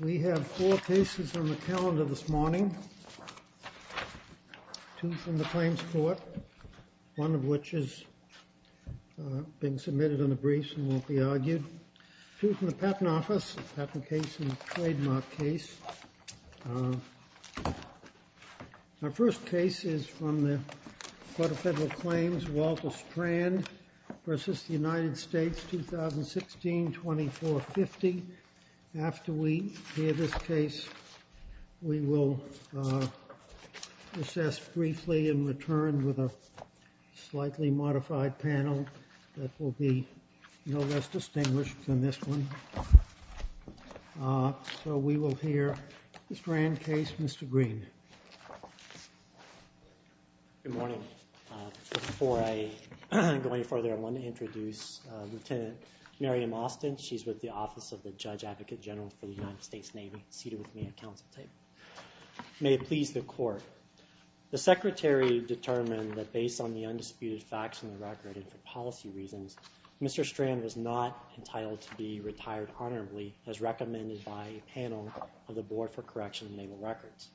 We have four cases on the calendar this morning, two from the claims court, one of which is being submitted on the briefs and won't be argued, two from the Patent Office, a patent case, and a trademark case. Our first case is from the Court of Federal Claims, Walter Strand v. United States, 2016-2450. After we hear this case, we will assess briefly and return with a slightly modified panel that will be no less distinguished than this one. So we will hear Mr. Strand's case, Mr. Green. Good morning. Before I go any further, I want to introduce Lieutenant Miriam Austin, she's with the Office of the Judge Advocate General for the United States Navy, seated with me at council table. May it please the Court, the Secretary determined that based on the undisputed facts in the policy reasons, Mr. Strand was not entitled to be retired honorably, as recommended by a panel of the Board for Correction and Naval Records.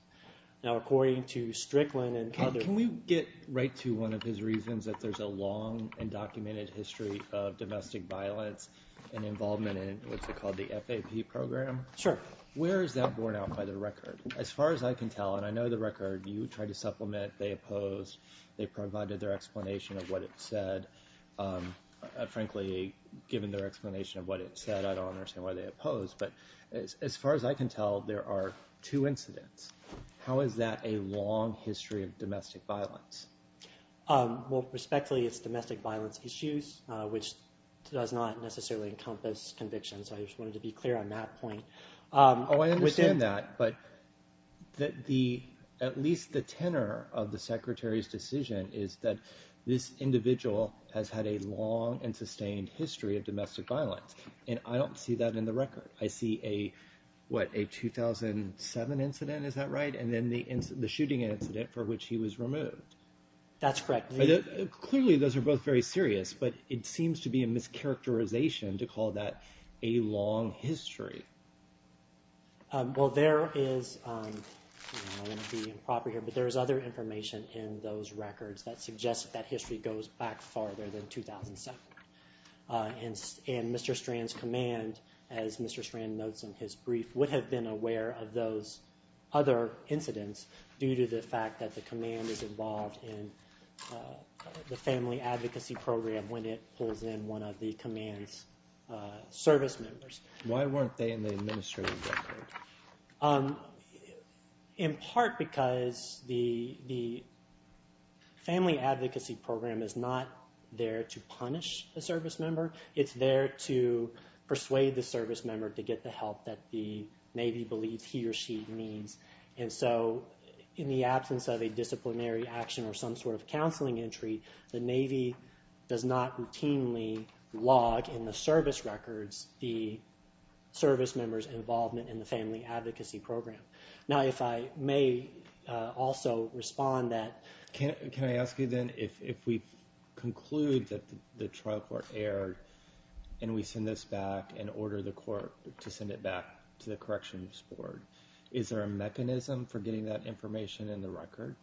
Now according to Strickland and others... Can we get right to one of his reasons, that there's a long and documented history of domestic violence and involvement in what's called the FAP program? Sure. Where is that borne out by the record? As far as I can tell, and I know the record, you tried to supplement, they opposed, they frankly, given their explanation of what it said, I don't understand why they opposed, but as far as I can tell, there are two incidents. How is that a long history of domestic violence? Well, respectfully, it's domestic violence issues, which does not necessarily encompass convictions. I just wanted to be clear on that point. Oh, I understand that, but at least the tenor of the Secretary's decision is that this individual has had a long and sustained history of domestic violence, and I don't see that in the record. I see a, what, a 2007 incident, is that right? And then the shooting incident for which he was removed. That's correct. Clearly, those are both very serious, but it seems to be a mischaracterization to call that a long history. Well, there is, I don't want to be improper here, but there is other information in those records that is farther than 2007, and Mr. Strand's command, as Mr. Strand notes in his brief, would have been aware of those other incidents due to the fact that the command is involved in the Family Advocacy Program when it pulls in one of the command's service members. Why weren't they in the administrative record? In part because the Family Advocacy Program is not there to punish a service member. It's there to persuade the service member to get the help that the Navy believes he or she needs. And so in the absence of a disciplinary action or some sort of counseling entry, the Navy does not routinely log in the service records the service member's involvement in the Family Advocacy Program. Now, if I may also respond that... Can I ask you then, if we conclude that the trial court erred and we send this back and order the court to send it back to the Corrections Board, is there a mechanism for getting that information in the record?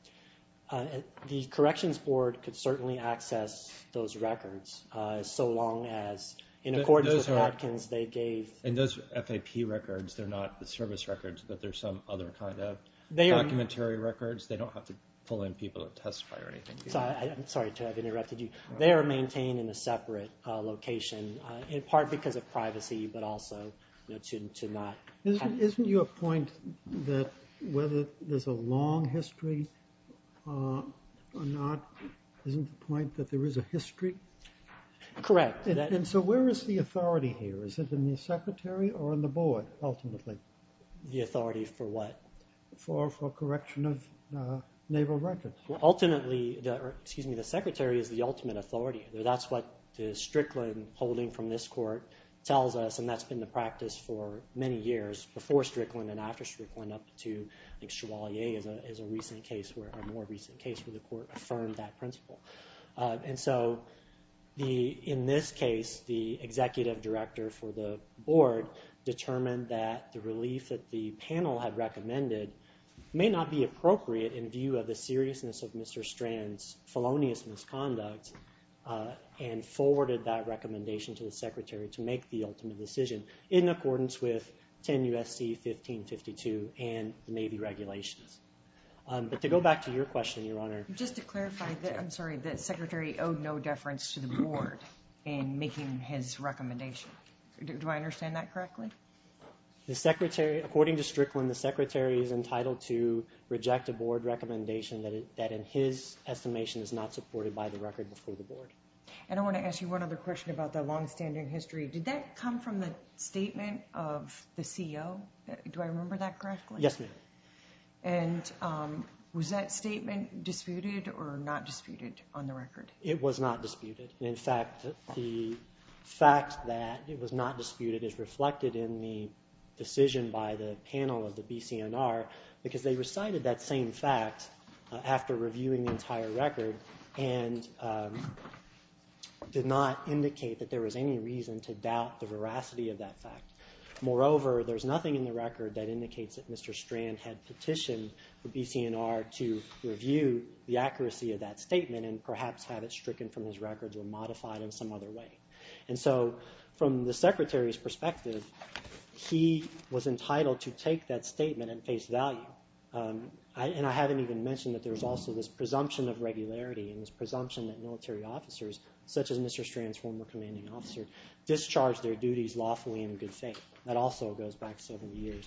The Corrections Board could certainly access those records, so long as, in accordance with Atkins, they gave... And those FAP records, they're not the service records, but they're some other kind of documentary records? They don't have to pull in people to testify or anything? I'm sorry to have interrupted you. They are maintained in a separate location, in part because of privacy, but also to not... Isn't your point that whether there's a long history or not, isn't the point that there is a history? Correct. And so where is the authority here? Is it in the Secretary or in the Board, ultimately? The authority for what? For correction of Naval records. Well, ultimately, excuse me, the Secretary is the ultimate authority. That's what the Strickland holding from this court tells us, and that's been the practice for many years, before Strickland and after Strickland, up to, I think, Chevalier is a more recent case where the court affirmed that principle. And so, in this case, the Executive Director for the Board determined that the relief that the panel had recommended may not be appropriate in view of the seriousness of Mr. Strand's felonious misconduct, and forwarded that recommendation to the Secretary to make the ultimate decision, in accordance with 10 U.S.C. 1552 and the Navy regulations. But to go back to your question, Your Honor... Just to clarify, I'm sorry, the Secretary owed no deference to the Board in making his recommendation. Do I understand that correctly? The Secretary... According to Strickland, the Secretary is entitled to reject a Board recommendation that in his estimation is not supported by the record before the Board. And I want to ask you one other question about the longstanding history. Did that come from the statement of the CEO? Do I remember that correctly? Yes, ma'am. And was that statement disputed or not disputed on the record? It was not disputed. In fact, the fact that it was not disputed is reflected in the decision by the panel of the BCNR, because they recited that same fact after reviewing the entire record, and it did not indicate that there was any reason to doubt the veracity of that fact. Moreover, there's nothing in the record that indicates that Mr. Strand had petitioned the BCNR to review the accuracy of that statement and perhaps have it stricken from his record or modified in some other way. And so, from the Secretary's perspective, he was entitled to take that statement at face value. And I haven't even mentioned that there's also this presumption of regularity and this presumption that military officers, such as Mr. Strand's former commanding officer, discharged their duties lawfully and in good faith. That also goes back several years.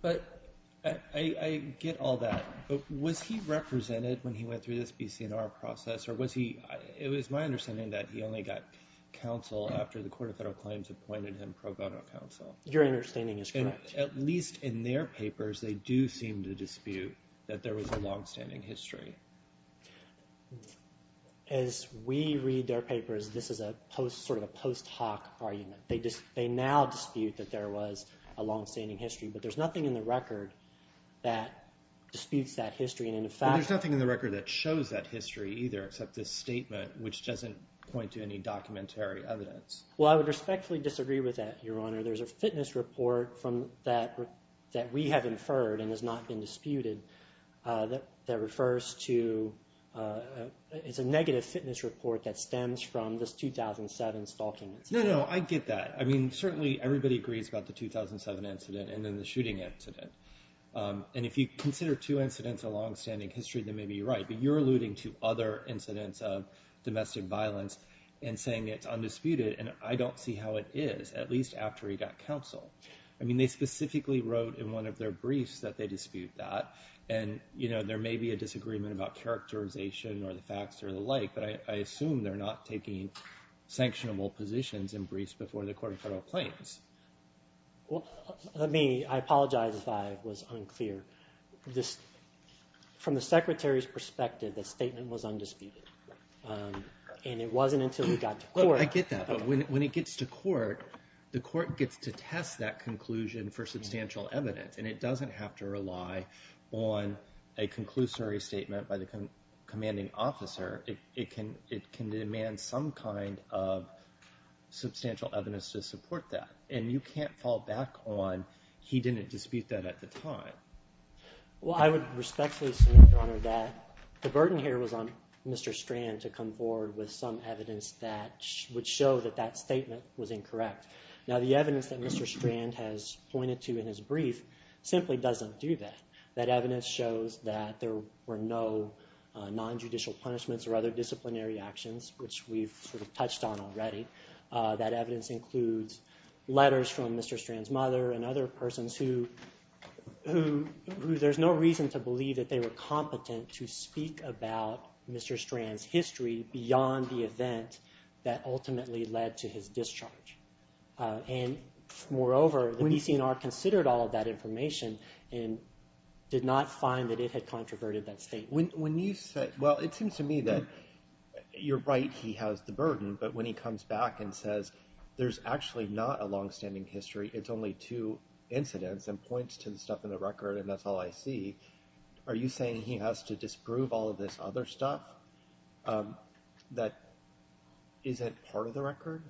But I get all that. But was he represented when he went through this BCNR process, or was he – it was my understanding that he only got counsel after the Court of Federal Claims appointed him pro bono counsel. Your understanding is correct. But at least in their papers, they do seem to dispute that there was a longstanding history. As we read their papers, this is a post – sort of a post hoc argument. They now dispute that there was a longstanding history. But there's nothing in the record that disputes that history. And in fact – But there's nothing in the record that shows that history either except this statement, which doesn't point to any documentary evidence. Well, I would respectfully disagree with that, Your Honor. There's a fitness report from – that we have inferred and has not been disputed that refers to – it's a negative fitness report that stems from this 2007 stalking incident. No, no, I get that. I mean, certainly everybody agrees about the 2007 incident and then the shooting incident. And if you consider two incidents a longstanding history, then maybe you're right. But you're alluding to other incidents of domestic violence and saying it's undisputed. And I don't see how it is, at least after he got counsel. I mean, they specifically wrote in one of their briefs that they dispute that. And, you know, there may be a disagreement about characterization or the facts or the like. But I assume they're not taking sanctionable positions in briefs before the court of federal claims. Well, let me – I apologize if I was unclear. From the Secretary's perspective, the statement was undisputed. And it wasn't until he got to court – I get that. But when it gets to court, the court gets to test that conclusion for substantial evidence. And it doesn't have to rely on a conclusory statement by the commanding officer. It can demand some kind of substantial evidence to support that. And you can't fall back on he didn't dispute that at the time. Well, I would respectfully assume, Your Honor, that the burden here was on Mr. Strand to come forward with some evidence that would show that that statement was incorrect. Now, the evidence that Mr. Strand has pointed to in his brief simply doesn't do that. That evidence shows that there were no nonjudicial punishments or other disciplinary actions, which we've sort of touched on already. That evidence includes letters from Mr. Strand's mother and other persons who there's no reason to believe that they were competent to speak about Mr. Strand's history beyond the event that ultimately led to his discharge. And moreover, the BCNR considered all of that information and did not find that it had controverted that statement. When you say – well, it seems to me that you're right, he has the burden. But when he comes back and says there's actually not a longstanding history, it's only two incidents and points to the stuff in the record and that's all I see, are you saying he has to disprove all of this other stuff that isn't part of the record?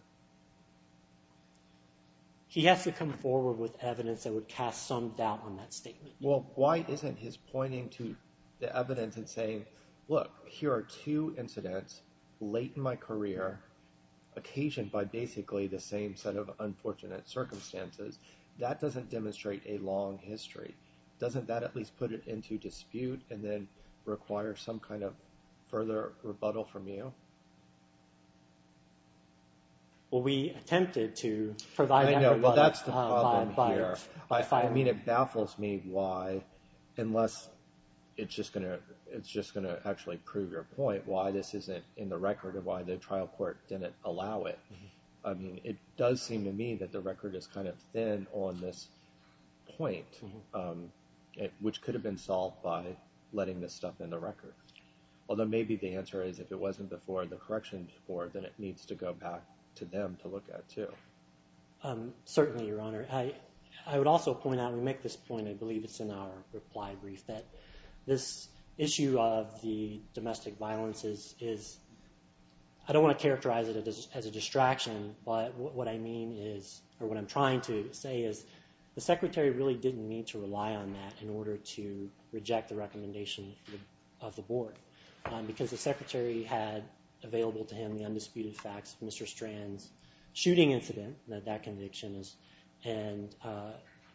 He has to come forward with evidence that would cast some doubt on that statement. Well, why isn't his pointing to the evidence and saying, look, here are two incidents late in my career, occasioned by basically the same set of unfortunate circumstances? That doesn't demonstrate a long history. Doesn't that at least put it into dispute and then require some kind of further rebuttal from you? Well, we attempted to provide that rebuttal. I know, but that's the problem here. I mean, it baffles me why, unless it's just going to actually prove your point, why this isn't in the record or why the trial court didn't allow it. It does seem to me that the record is kind of thin on this point, which could have been solved by letting this stuff in the record. Although maybe the answer is if it wasn't before the correction before, then it needs to go back to them to look at too. Certainly, Your Honor. I would also point out, and we make this point, I believe it's in our reply brief, that this issue of the domestic violence is, I don't want to characterize it as a distraction, but what I mean is, or what I'm trying to say is, the Secretary really didn't need to rely on that in order to reject the recommendation of the Board because the Secretary had available to him the undisputed facts of Mr. Strand's shooting incident, that conviction, and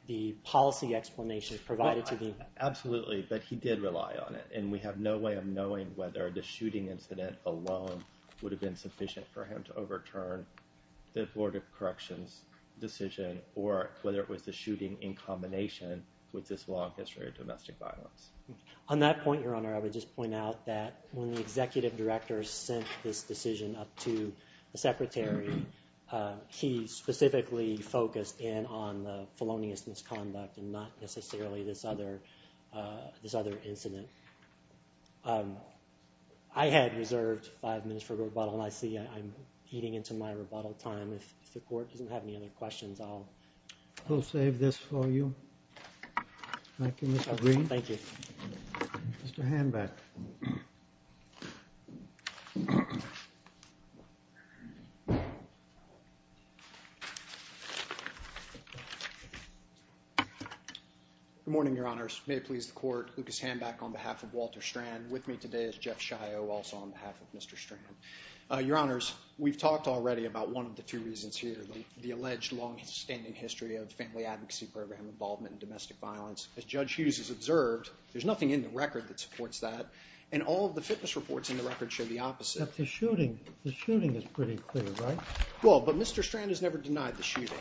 the policy explanation provided to him. Absolutely, but he did rely on it, and we have no way of knowing whether the shooting incident alone would have been sufficient for him to overturn the Board of Corrections decision or whether it was the shooting in combination with this long history of domestic violence. On that point, Your Honor, I would just point out that when the Executive Director sent this decision up to the Secretary, he specifically focused in on the felonious misconduct and not necessarily this other incident. I had reserved five minutes for rebuttal, and I see I'm eating into my rebuttal time. If the Court doesn't have any other questions, I'll... We'll save this for you. Thank you, Mr. Green. Thank you. Mr. Hanback. Good morning, Your Honors. May it please the Court, Lucas Hanback on behalf of Walter Strand. With me today is Jeff Shio, also on behalf of Mr. Strand. Your Honors, we've talked already about one of the two reasons here, the alleged long-standing history of Family Advocacy Program involvement in domestic violence. As Judge Hughes has observed, there's nothing in the record that supports that, and all of the fitness reports in the record show the opposite. Except the shooting. The shooting is pretty clear, right? Well, but Mr. Strand has never denied the shooting.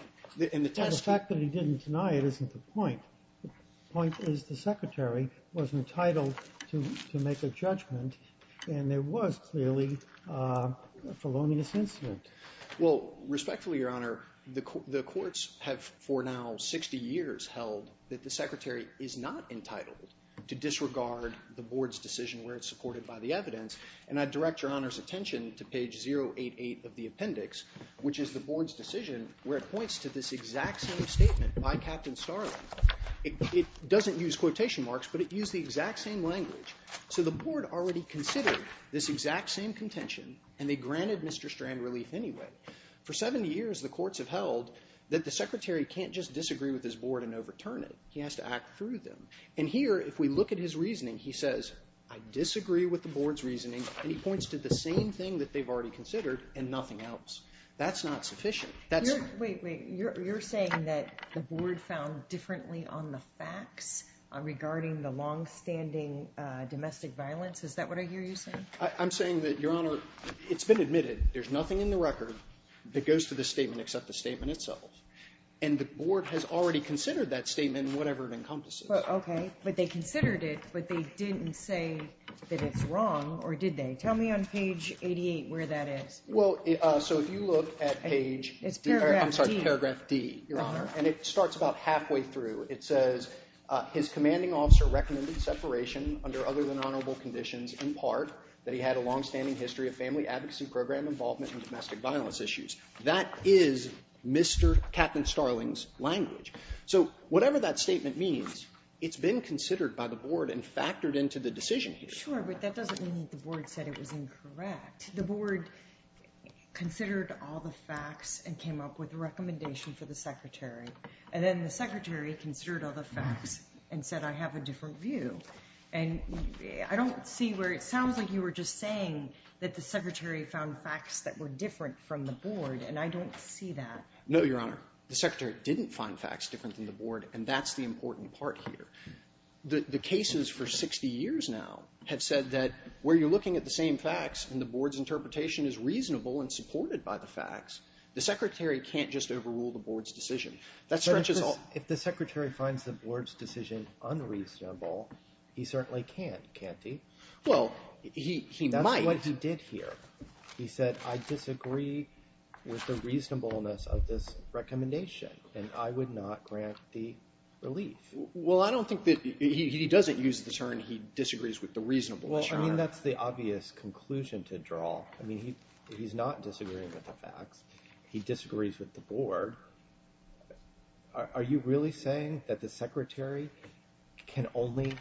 And the fact that he didn't deny it isn't the point. The point is the Secretary was entitled to make a judgment, and there was clearly a felonious incident. Well, respectfully, Your Honor, the courts have for now 60 years held that the Secretary is not entitled to disregard the Board's decision where it's supported by the evidence, and I direct Your Honor's attention to page 088 of the appendix, which is the Board's decision where it points to this exact same statement by Captain Starling. It doesn't use quotation marks, but it used the exact same language. So the Board already considered this exact same contention, and they granted Mr. Strand relief anyway. For 70 years, the courts have held that the Secretary can't just disagree with his Board and overturn it. He has to act through them. And here, if we look at his reasoning, he says, I disagree with the Board's reasoning, and he points to the same thing that they've already considered and nothing else. That's not sufficient. Wait, wait. You're saying that the Board found differently on the facts regarding the longstanding domestic violence? Is that what I hear you saying? I'm saying that, Your Honor, it's been admitted. There's nothing in the record that goes to the statement except the statement itself. And the Board has already considered that statement in whatever it encompasses. Well, okay, but they considered it, but they didn't say that it's wrong, or did they? Tell me on page 88 where that is. Well, so if you look at page— It's paragraph D. I'm sorry, paragraph D, Your Honor, and it starts about halfway through. It says, his commanding officer recommended separation under other than honorable conditions, in part, that he had a longstanding history of family advocacy program involvement in domestic violence issues. That is Mr. Captain Starling's language. So whatever that statement means, it's been considered by the Board and factored into the decision here. Sure, but that doesn't mean the Board said it was incorrect. The Board considered all the facts and came up with a recommendation for the Secretary, and then the Secretary considered all the facts and said, I have a different view. And I don't see where it sounds like you were just saying that the Secretary found facts that were different from the Board, and I don't see that. No, Your Honor. The Secretary didn't find facts different than the Board, and that's the important part here. The cases for 60 years now have said that where you're looking at the same facts and the Board's interpretation is reasonable and supported by the facts, the Secretary can't just overrule the Board's decision. That stretches all— But if the Secretary finds the Board's decision unreasonable, he certainly can't, can't he? Well, he might. That's what he did here. He said, I disagree with the reasonableness of this recommendation, and I would not grant the relief. Well, I don't think that—he doesn't use the term he disagrees with, the reasonable, Your Honor. Well, I mean, that's the obvious conclusion to draw. I mean, he's not disagreeing with the facts. He disagrees with the Board. Are you really saying that the Secretary can only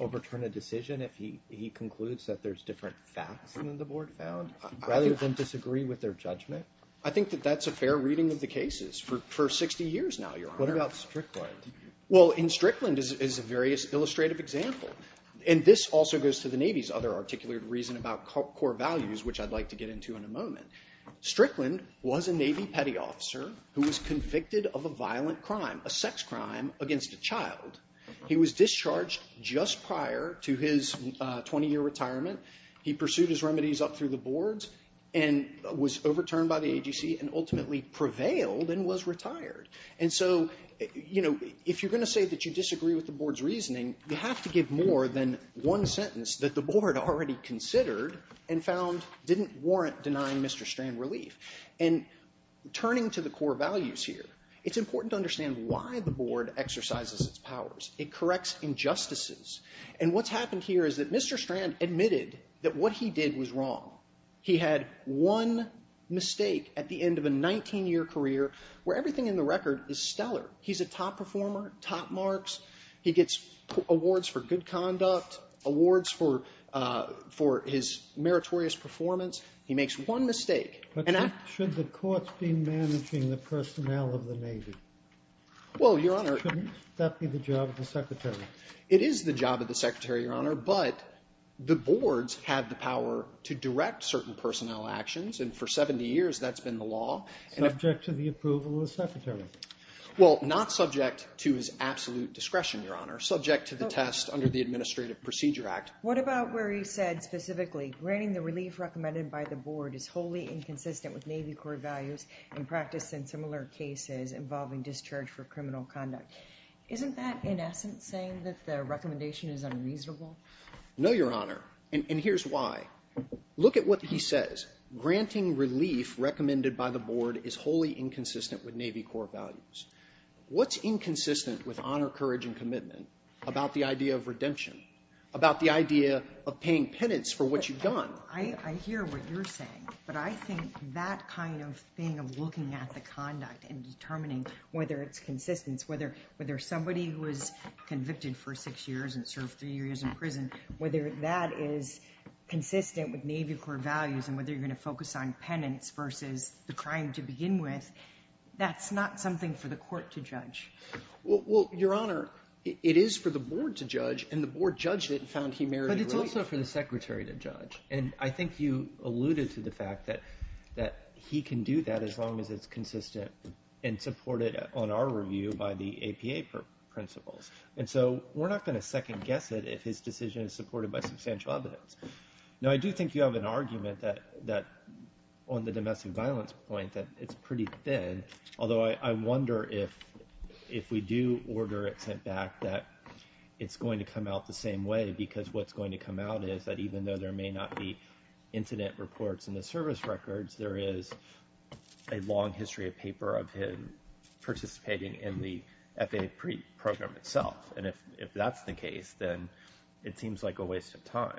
overturn a decision if he concludes that there's different facts than the Board found? Rather than disagree with their judgment? I think that that's a fair reading of the cases for 60 years now, Your Honor. What about Strickland? Well, in Strickland is a very illustrative example, and this also goes to the Navy's other articulated reason about core values, which I'd like to get into in a moment. Strickland was a Navy petty officer who was convicted of a violent crime, a sex crime against a child. He was discharged just prior to his 20-year retirement. He pursued his remedies up through the Boards and was overturned by the AGC and ultimately prevailed and was retired. And so, you know, if you're going to say that you disagree with the Board's reasoning, you have to give more than one sentence that the Board already considered and found didn't warrant denying Mr. Strand relief. And turning to the core values here, it's important to understand why the Board exercises its powers. It corrects injustices. And what's happened here is that Mr. Strand admitted that what he did was wrong. He had one mistake at the end of a 19-year career where everything in the record is stellar. He's a top performer, top marks. He gets awards for good conduct, awards for his meritorious performance. He makes one mistake. But should the courts be managing the personnel of the Navy? Well, Your Honor. Shouldn't that be the job of the Secretary? It is the job of the Secretary, Your Honor, but the Boards have the power to direct certain personnel actions, and for 70 years that's been the law. Subject to the approval of the Secretary? Well, not subject to his absolute discretion, Your Honor. Subject to the test under the Administrative Procedure Act. What about where he said specifically, granting the relief recommended by the Board is wholly inconsistent with Navy Corps values and practice in similar cases involving discharge for criminal conduct. Isn't that, in essence, saying that the recommendation is unreasonable? No, Your Honor, and here's why. Look at what he says. Granting relief recommended by the Board is wholly inconsistent with Navy Corps values. What's inconsistent with honor, courage, and commitment about the idea of redemption, about the idea of paying penance for what you've done? I hear what you're saying, but I think that kind of thing of looking at the conduct and determining whether it's consistent, whether somebody was convicted for six years and served three years in prison, whether that is consistent with Navy Corps values and whether you're going to focus on penance versus the crime to begin with, that's not something for the Court to judge. Well, Your Honor, it is for the Board to judge, and the Board judged it and found he merited relief. But it's also for the Secretary to judge, and I think you alluded to the fact that he can do that as long as it's consistent and supported on our review by the APA principles. And so we're not going to second-guess it if his decision is supported by substantial evidence. Now, I do think you have an argument on the domestic violence point that it's pretty thin, although I wonder if we do order it sent back that it's going to come out the same way because what's going to come out is that even though there may not be incident reports in the service records, there is a long history of paper of him participating in the FAA program itself. And if that's the case, then it seems like a waste of time.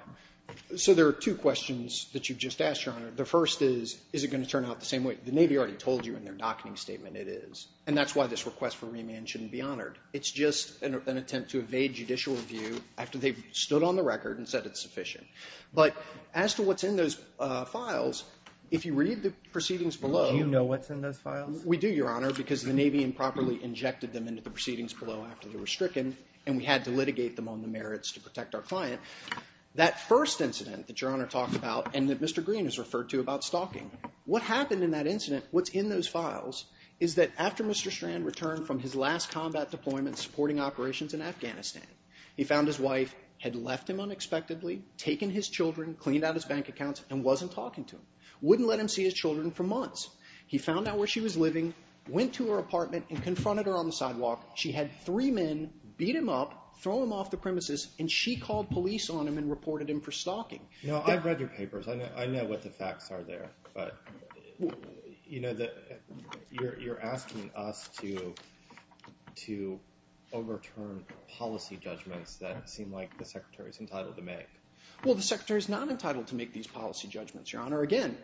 So there are two questions that you just asked, Your Honor. The first is, is it going to turn out the same way? The Navy already told you in their docketing statement it is, and that's why this request for remand shouldn't be honored. It's just an attempt to evade judicial review after they've stood on the record and said it's sufficient. But as to what's in those files, if you read the proceedings below... Do you know what's in those files? We do, Your Honor, because the Navy improperly injected them into the proceedings below after they were stricken, and we had to litigate them on the merits to protect our client. That first incident that Your Honor talked about and that Mr. Green has referred to about stalking, what happened in that incident, what's in those files, is that after Mr. Strand returned from his last combat deployment supporting operations in Afghanistan, he found his wife had left him unexpectedly, taken his children, cleaned out his bank accounts, and wasn't talking to him, wouldn't let him see his children for months. He found out where she was living, went to her apartment, and confronted her on the sidewalk. She had three men beat him up, throw him off the premises, and she called police on him and reported him for stalking. No, I've read your papers. I know what the facts are there, but, you know, you're asking us to overturn policy judgments that seem like the Secretary's entitled to make. Well, the Secretary's not entitled to make these policy judgments, Your Honor. Again,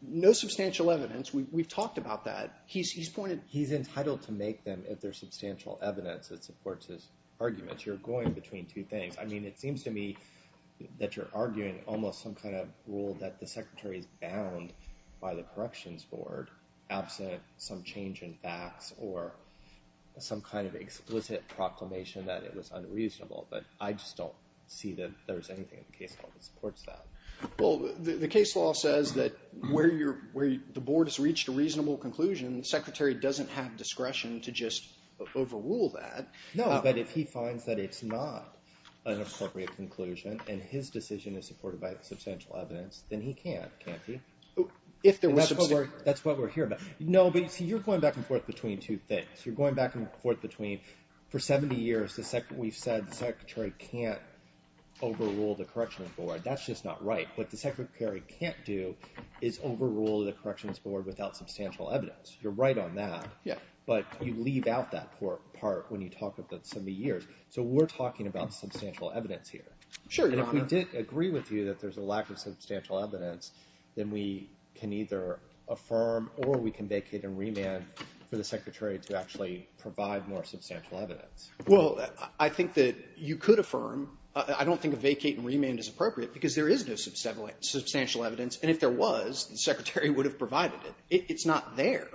no substantial evidence. We've talked about that. He's entitled to make them if there's substantial evidence that supports his arguments. I mean, it seems to me that you're arguing almost some kind of rule that the Secretary's bound by the Corrections Board, absent some change in facts or some kind of explicit proclamation that it was unreasonable, but I just don't see that there's anything in the case law that supports that. Well, the case law says that where the Board has reached a reasonable conclusion, the Secretary doesn't have discretion to just overrule that. No, but if he finds that it's not an appropriate conclusion and his decision is supported by substantial evidence, then he can't, can't he? That's what we're here about. No, but see, you're going back and forth between two things. You're going back and forth between for 70 years we've said the Secretary can't overrule the Corrections Board. That's just not right. What the Secretary can't do is overrule the Corrections Board without substantial evidence. You're right on that, but you leave out that part when you talk about 70 years. So we're talking about substantial evidence here. Sure, Your Honor. And if we did agree with you that there's a lack of substantial evidence, then we can either affirm or we can vacate and remand for the Secretary to actually provide more substantial evidence. Well, I think that you could affirm. I don't think a vacate and remand is appropriate because there is no substantial evidence, and if there was, the Secretary would have provided it. It's not there.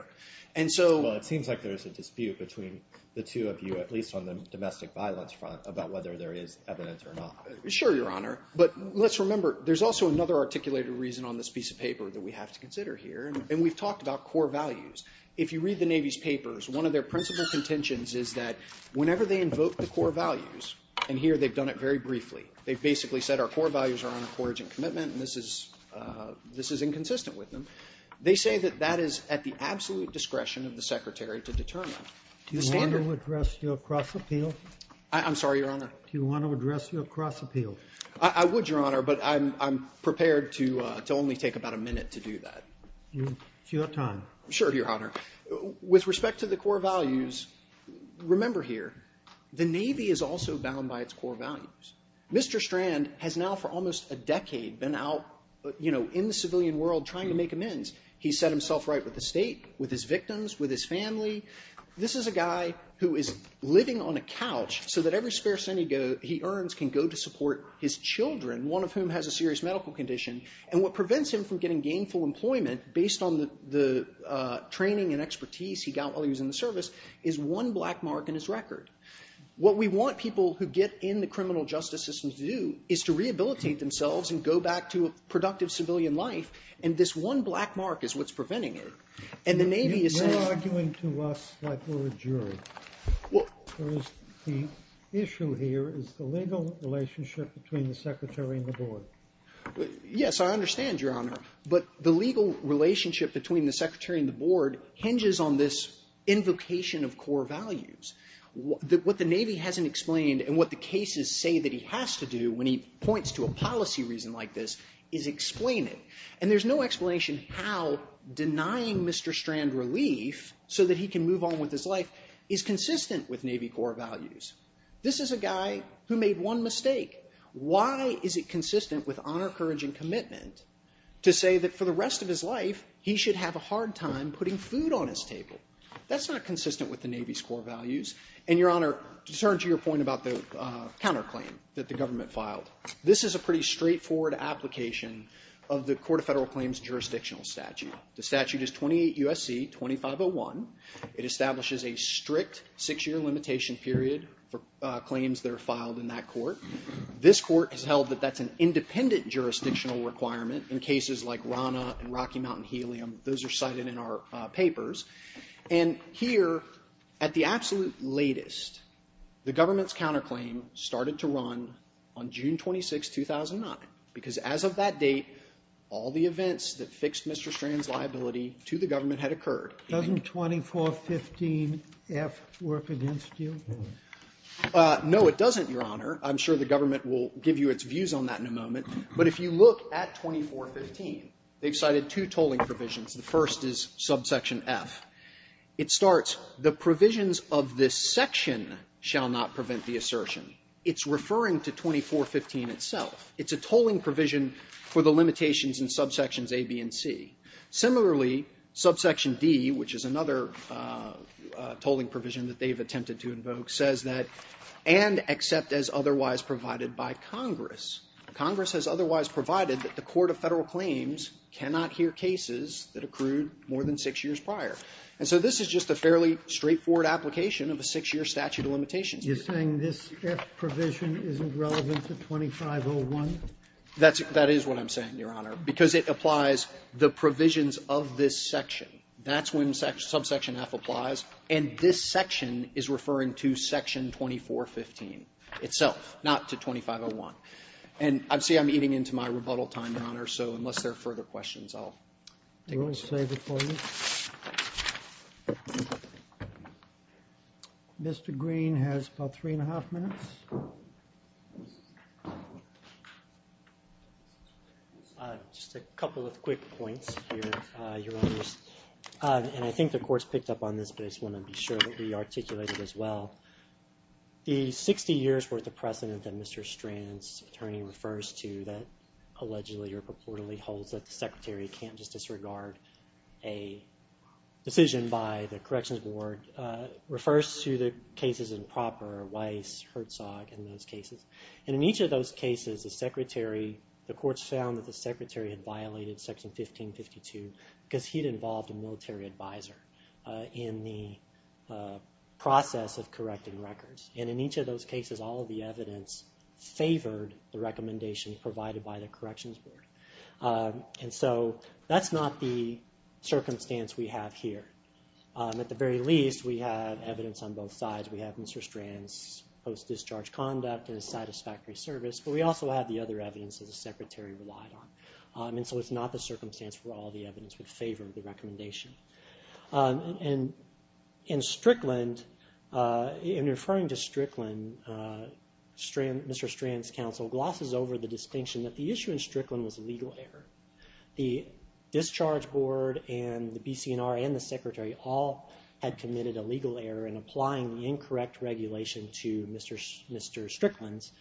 And so... Well, it seems like there's a dispute between the two of you, at least on the domestic violence front, about whether there is evidence or not. Sure, Your Honor. But let's remember there's also another articulated reason on this piece of paper that we have to consider here, and we've talked about core values. If you read the Navy's papers, one of their principal contentions is that whenever they invoke the core values, and here they've done it very briefly, they've basically said our core values are on a courage and commitment, and this is inconsistent with them. They say that that is at the absolute discretion of the Secretary to determine the standard. Do you want me to address your cross-appeal? I'm sorry, Your Honor. Do you want to address your cross-appeal? I would, Your Honor, but I'm prepared to only take about a minute to do that. It's your time. Sure, Your Honor. With respect to the core values, remember here, the Navy is also bound by its core values. Mr. Strand has now for almost a decade been out, you know, in the civilian world trying to make amends. He's set himself right with the State, with his victims, with his family. This is a guy who is living on a couch so that every spare cent he earns can go to support his children, one of whom has a serious medical condition, and what prevents him from getting gainful employment based on the training and expertise he got while he was in the service is one black mark in his record. What we want people who get in the criminal justice system to do is to rehabilitate themselves and go back to a productive civilian life, and this one black mark is what's preventing it. You're arguing to us that we're a jury. The issue here is the legal relationship between the Secretary and the Board. Yes, I understand, Your Honor, but the legal relationship between the Secretary and the Board hinges on this invocation of core values. What the Navy hasn't explained and what the cases say that he has to do when he points to a policy reason like this is explain it, and there's no explanation how denying Mr. Strand relief so that he can move on with his life is consistent with Navy core values. This is a guy who made one mistake. Why is it consistent with honor, courage, and commitment to say that for the rest of his life he should have a hard time putting food on his table? That's not consistent with the Navy's core values, and, Your Honor, to return to your point about the counterclaim that the government filed, this is a pretty straightforward application of the Court of Federal Claims jurisdictional statute. The statute is 28 U.S.C. 2501. It establishes a strict 6-year limitation period for claims that are filed in that court. This court has held that that's an independent jurisdictional requirement in cases like RANA and Rocky Mountain Helium. Those are cited in our papers. And here, at the absolute latest, the government's counterclaim started to run on June 26, 2009 because, as of that date, all the events that fixed Mr. Strand's liability to the government had occurred. Doesn't 2415F work against you? No, it doesn't, Your Honor. I'm sure the government will give you its views on that in a moment. But if you look at 2415, they've cited two tolling provisions. The first is subsection F. It starts, The provisions of this section shall not prevent the assertion. It's referring to 2415 itself. It's a tolling provision for the limitations in subsections A, B, and C. Similarly, subsection D, which is another tolling provision that they've attempted to invoke, says that, and except as otherwise provided by Congress. Congress has otherwise provided that the Court of Federal Claims cannot hear cases that accrued more than 6 years prior. And so this is just a fairly straightforward application of a 6-year statute of limitations. You're saying this F provision isn't relevant to 2501? That's what I'm saying, Your Honor, because it applies the provisions of this section. That's when subsection F applies. And this section is referring to section 2415 itself, not to 2501. And I see I'm eating into my rebuttal time, Your Honor, so unless there are further questions, I'll save it for you. Mr. Green has about three and a half minutes. Just a couple of quick points here, Your Honors. And I think the Court's picked up on this, but I just want to be sure that we articulate it as well. The 60 years worth of precedent that Mr. Strand's attorney refers to that allegedly or purportedly holds that the Secretary can't just disregard a decision by the Corrections Board refers to the cases in proper Weiss, Herzog, and those cases. And in each of those cases, the Court's found that the Secretary had violated section 1552 because he'd involved a military advisor in the process of correcting records. And in each of those cases, all of the evidence favored the recommendations provided by the Corrections Board. And so that's not the circumstance we have here. At the very least, we have evidence on both sides. We have Mr. Strand's post-discharge conduct and satisfactory service, but we also have the other evidence that the Secretary relied on. And so it's not the circumstance where all the evidence would favor the recommendation. And in Strickland, in referring to Strickland, Mr. Strand's counsel glosses over the distinction that the issue in Strickland was legal error. The Discharge Board and the BCNR and the Secretary all had committed a legal error in applying the incorrect regulation to Mr. Strickland's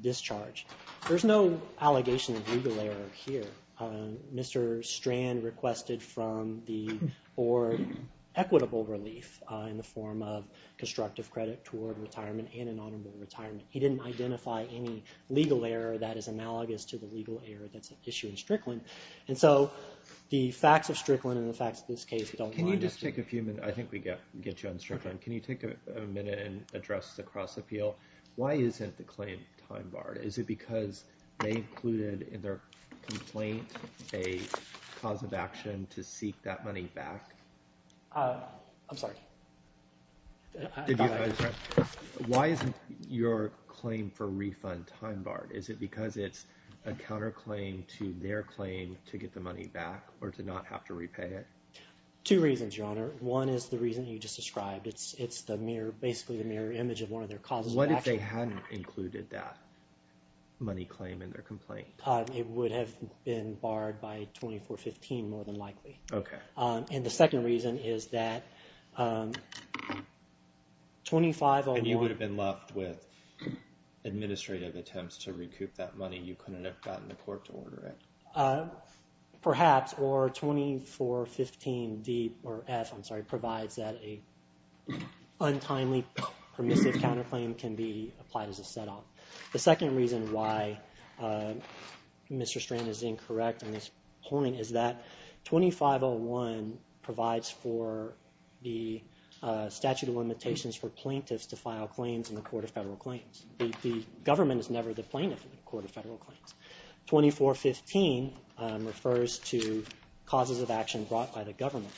discharge. There's no allegation of legal error here. Mr. Strand requested from the Board equitable relief in the form of constructive credit toward retirement and an honorable retirement. He didn't identify any legal error that is analogous to the legal error that's at issue in Strickland. And so the facts of Strickland and the facts of this case don't line up. Can you just take a few minutes? I think we get you on Strickland. Can you take a minute and address the cross-appeal? Why isn't the claim time-barred? Is it because they included in their complaint a cause of action to seek that money back? I'm sorry. Go ahead. Why isn't your claim for refund time-barred? Is it because it's a counterclaim to their claim to get the money back or to not have to repay it? Two reasons, Your Honor. One is the reason you just described. It's basically the mirror image of one of their causes of action. What if they hadn't included that money claim in their complaint? It would have been barred by 2415, more than likely. Okay. And the second reason is that 2501... And you would have been left with administrative attempts to recoup that money. You couldn't have gotten the court to order it. Perhaps. Or 2415-F provides that an untimely permissive counterclaim can be applied as a set-off. The second reason why Mr. Strand is incorrect on this point is that 2501 provides for the statute of limitations for plaintiffs to file claims in the Court of Federal Claims. The government is never the plaintiff in the Court of Federal Claims. 2415 refers to causes of action brought by the government.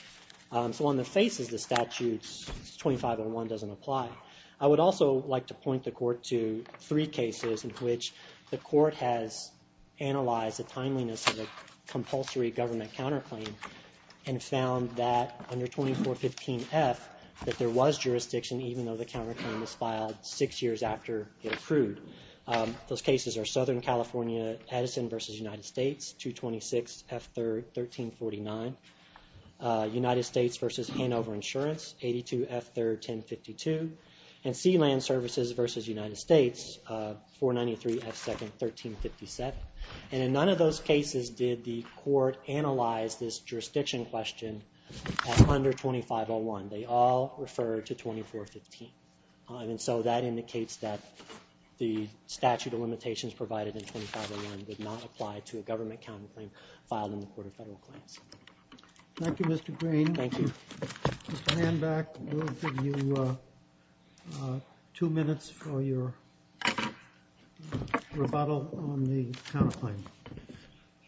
So on the faces, the statute 2501 doesn't apply. I would also like to point the court to three cases in which the court has analyzed the timeliness of a compulsory government counterclaim and found that under 2415-F that there was jurisdiction, even though the counterclaim was filed six years after it accrued. Those cases are Southern California Edison v. United States, 226-F1349, United States v. Hanover Insurance, 82-F31052, and Sealand Services v. United States, 493-F2nd-1357. And in none of those cases did the court analyze this jurisdiction question under 2501. They all refer to 2415. And so that indicates that the statute of limitations provided in 2501 would not apply to a government counterclaim filed in the Court of Federal Claims. Thank you, Mr. Green. Thank you. Mr. Hanback, we'll give you two minutes for your rebuttal on the counterclaim.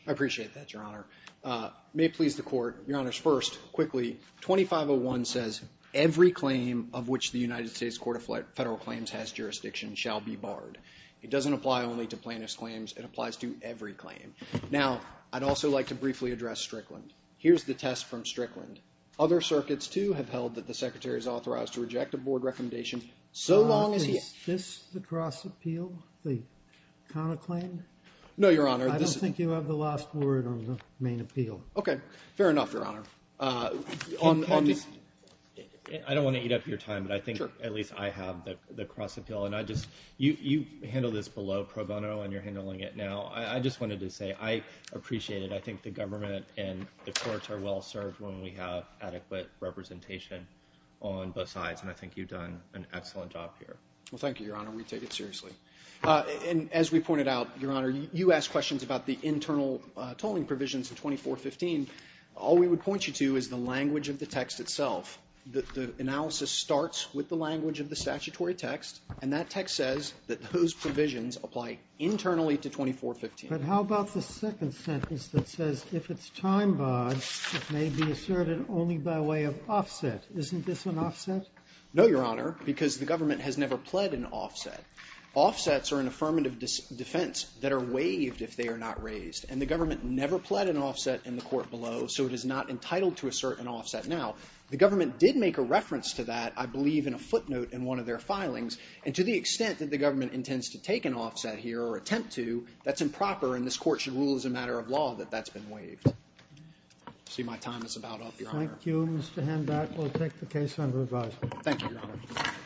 I appreciate that, Your Honor. May it please the Court, Your Honors, first, quickly, 2501 says, Every claim of which the United States Court of Federal Claims has jurisdiction shall be barred. It doesn't apply only to plaintiff's claims. It applies to every claim. Now, I'd also like to briefly address Strickland. Here's the test from Strickland. Other circuits, too, have held that the Secretary is authorized to reject a board recommendation so long as he Is this the cross-appeal, the counterclaim? No, Your Honor. I don't think you have the last word on the main appeal. Okay. Fair enough, Your Honor. I don't want to eat up your time, but I think at least I have the cross-appeal. You handled this below pro bono, and you're handling it now. I just wanted to say I appreciate it. I think the government and the courts are well served when we have adequate representation on both sides, and I think you've done an excellent job here. Well, thank you, Your Honor. We take it seriously. And as we pointed out, Your Honor, you asked questions about the internal tolling provisions of 2415. All we would point you to is the language of the text itself. The analysis starts with the language of the statutory text, and that text says that those provisions apply internally to 2415. But how about the second sentence that says, if it's time barred, it may be asserted only by way of offset. Isn't this an offset? No, Your Honor, because the government has never pled an offset. Offsets are an affirmative defense that are waived if they are not raised, and the government never pled an offset in the court below, so it is not entitled to assert an offset now. The government did make a reference to that, I believe, in a footnote in one of their filings, and to the extent that the government intends to take an offset here or attempt to, that's improper, and this court should rule as a matter of law that that's been waived. I see my time is about up, Your Honor. Thank you, Mr. Handback. We'll take the case under advisement. Thank you, Your Honor.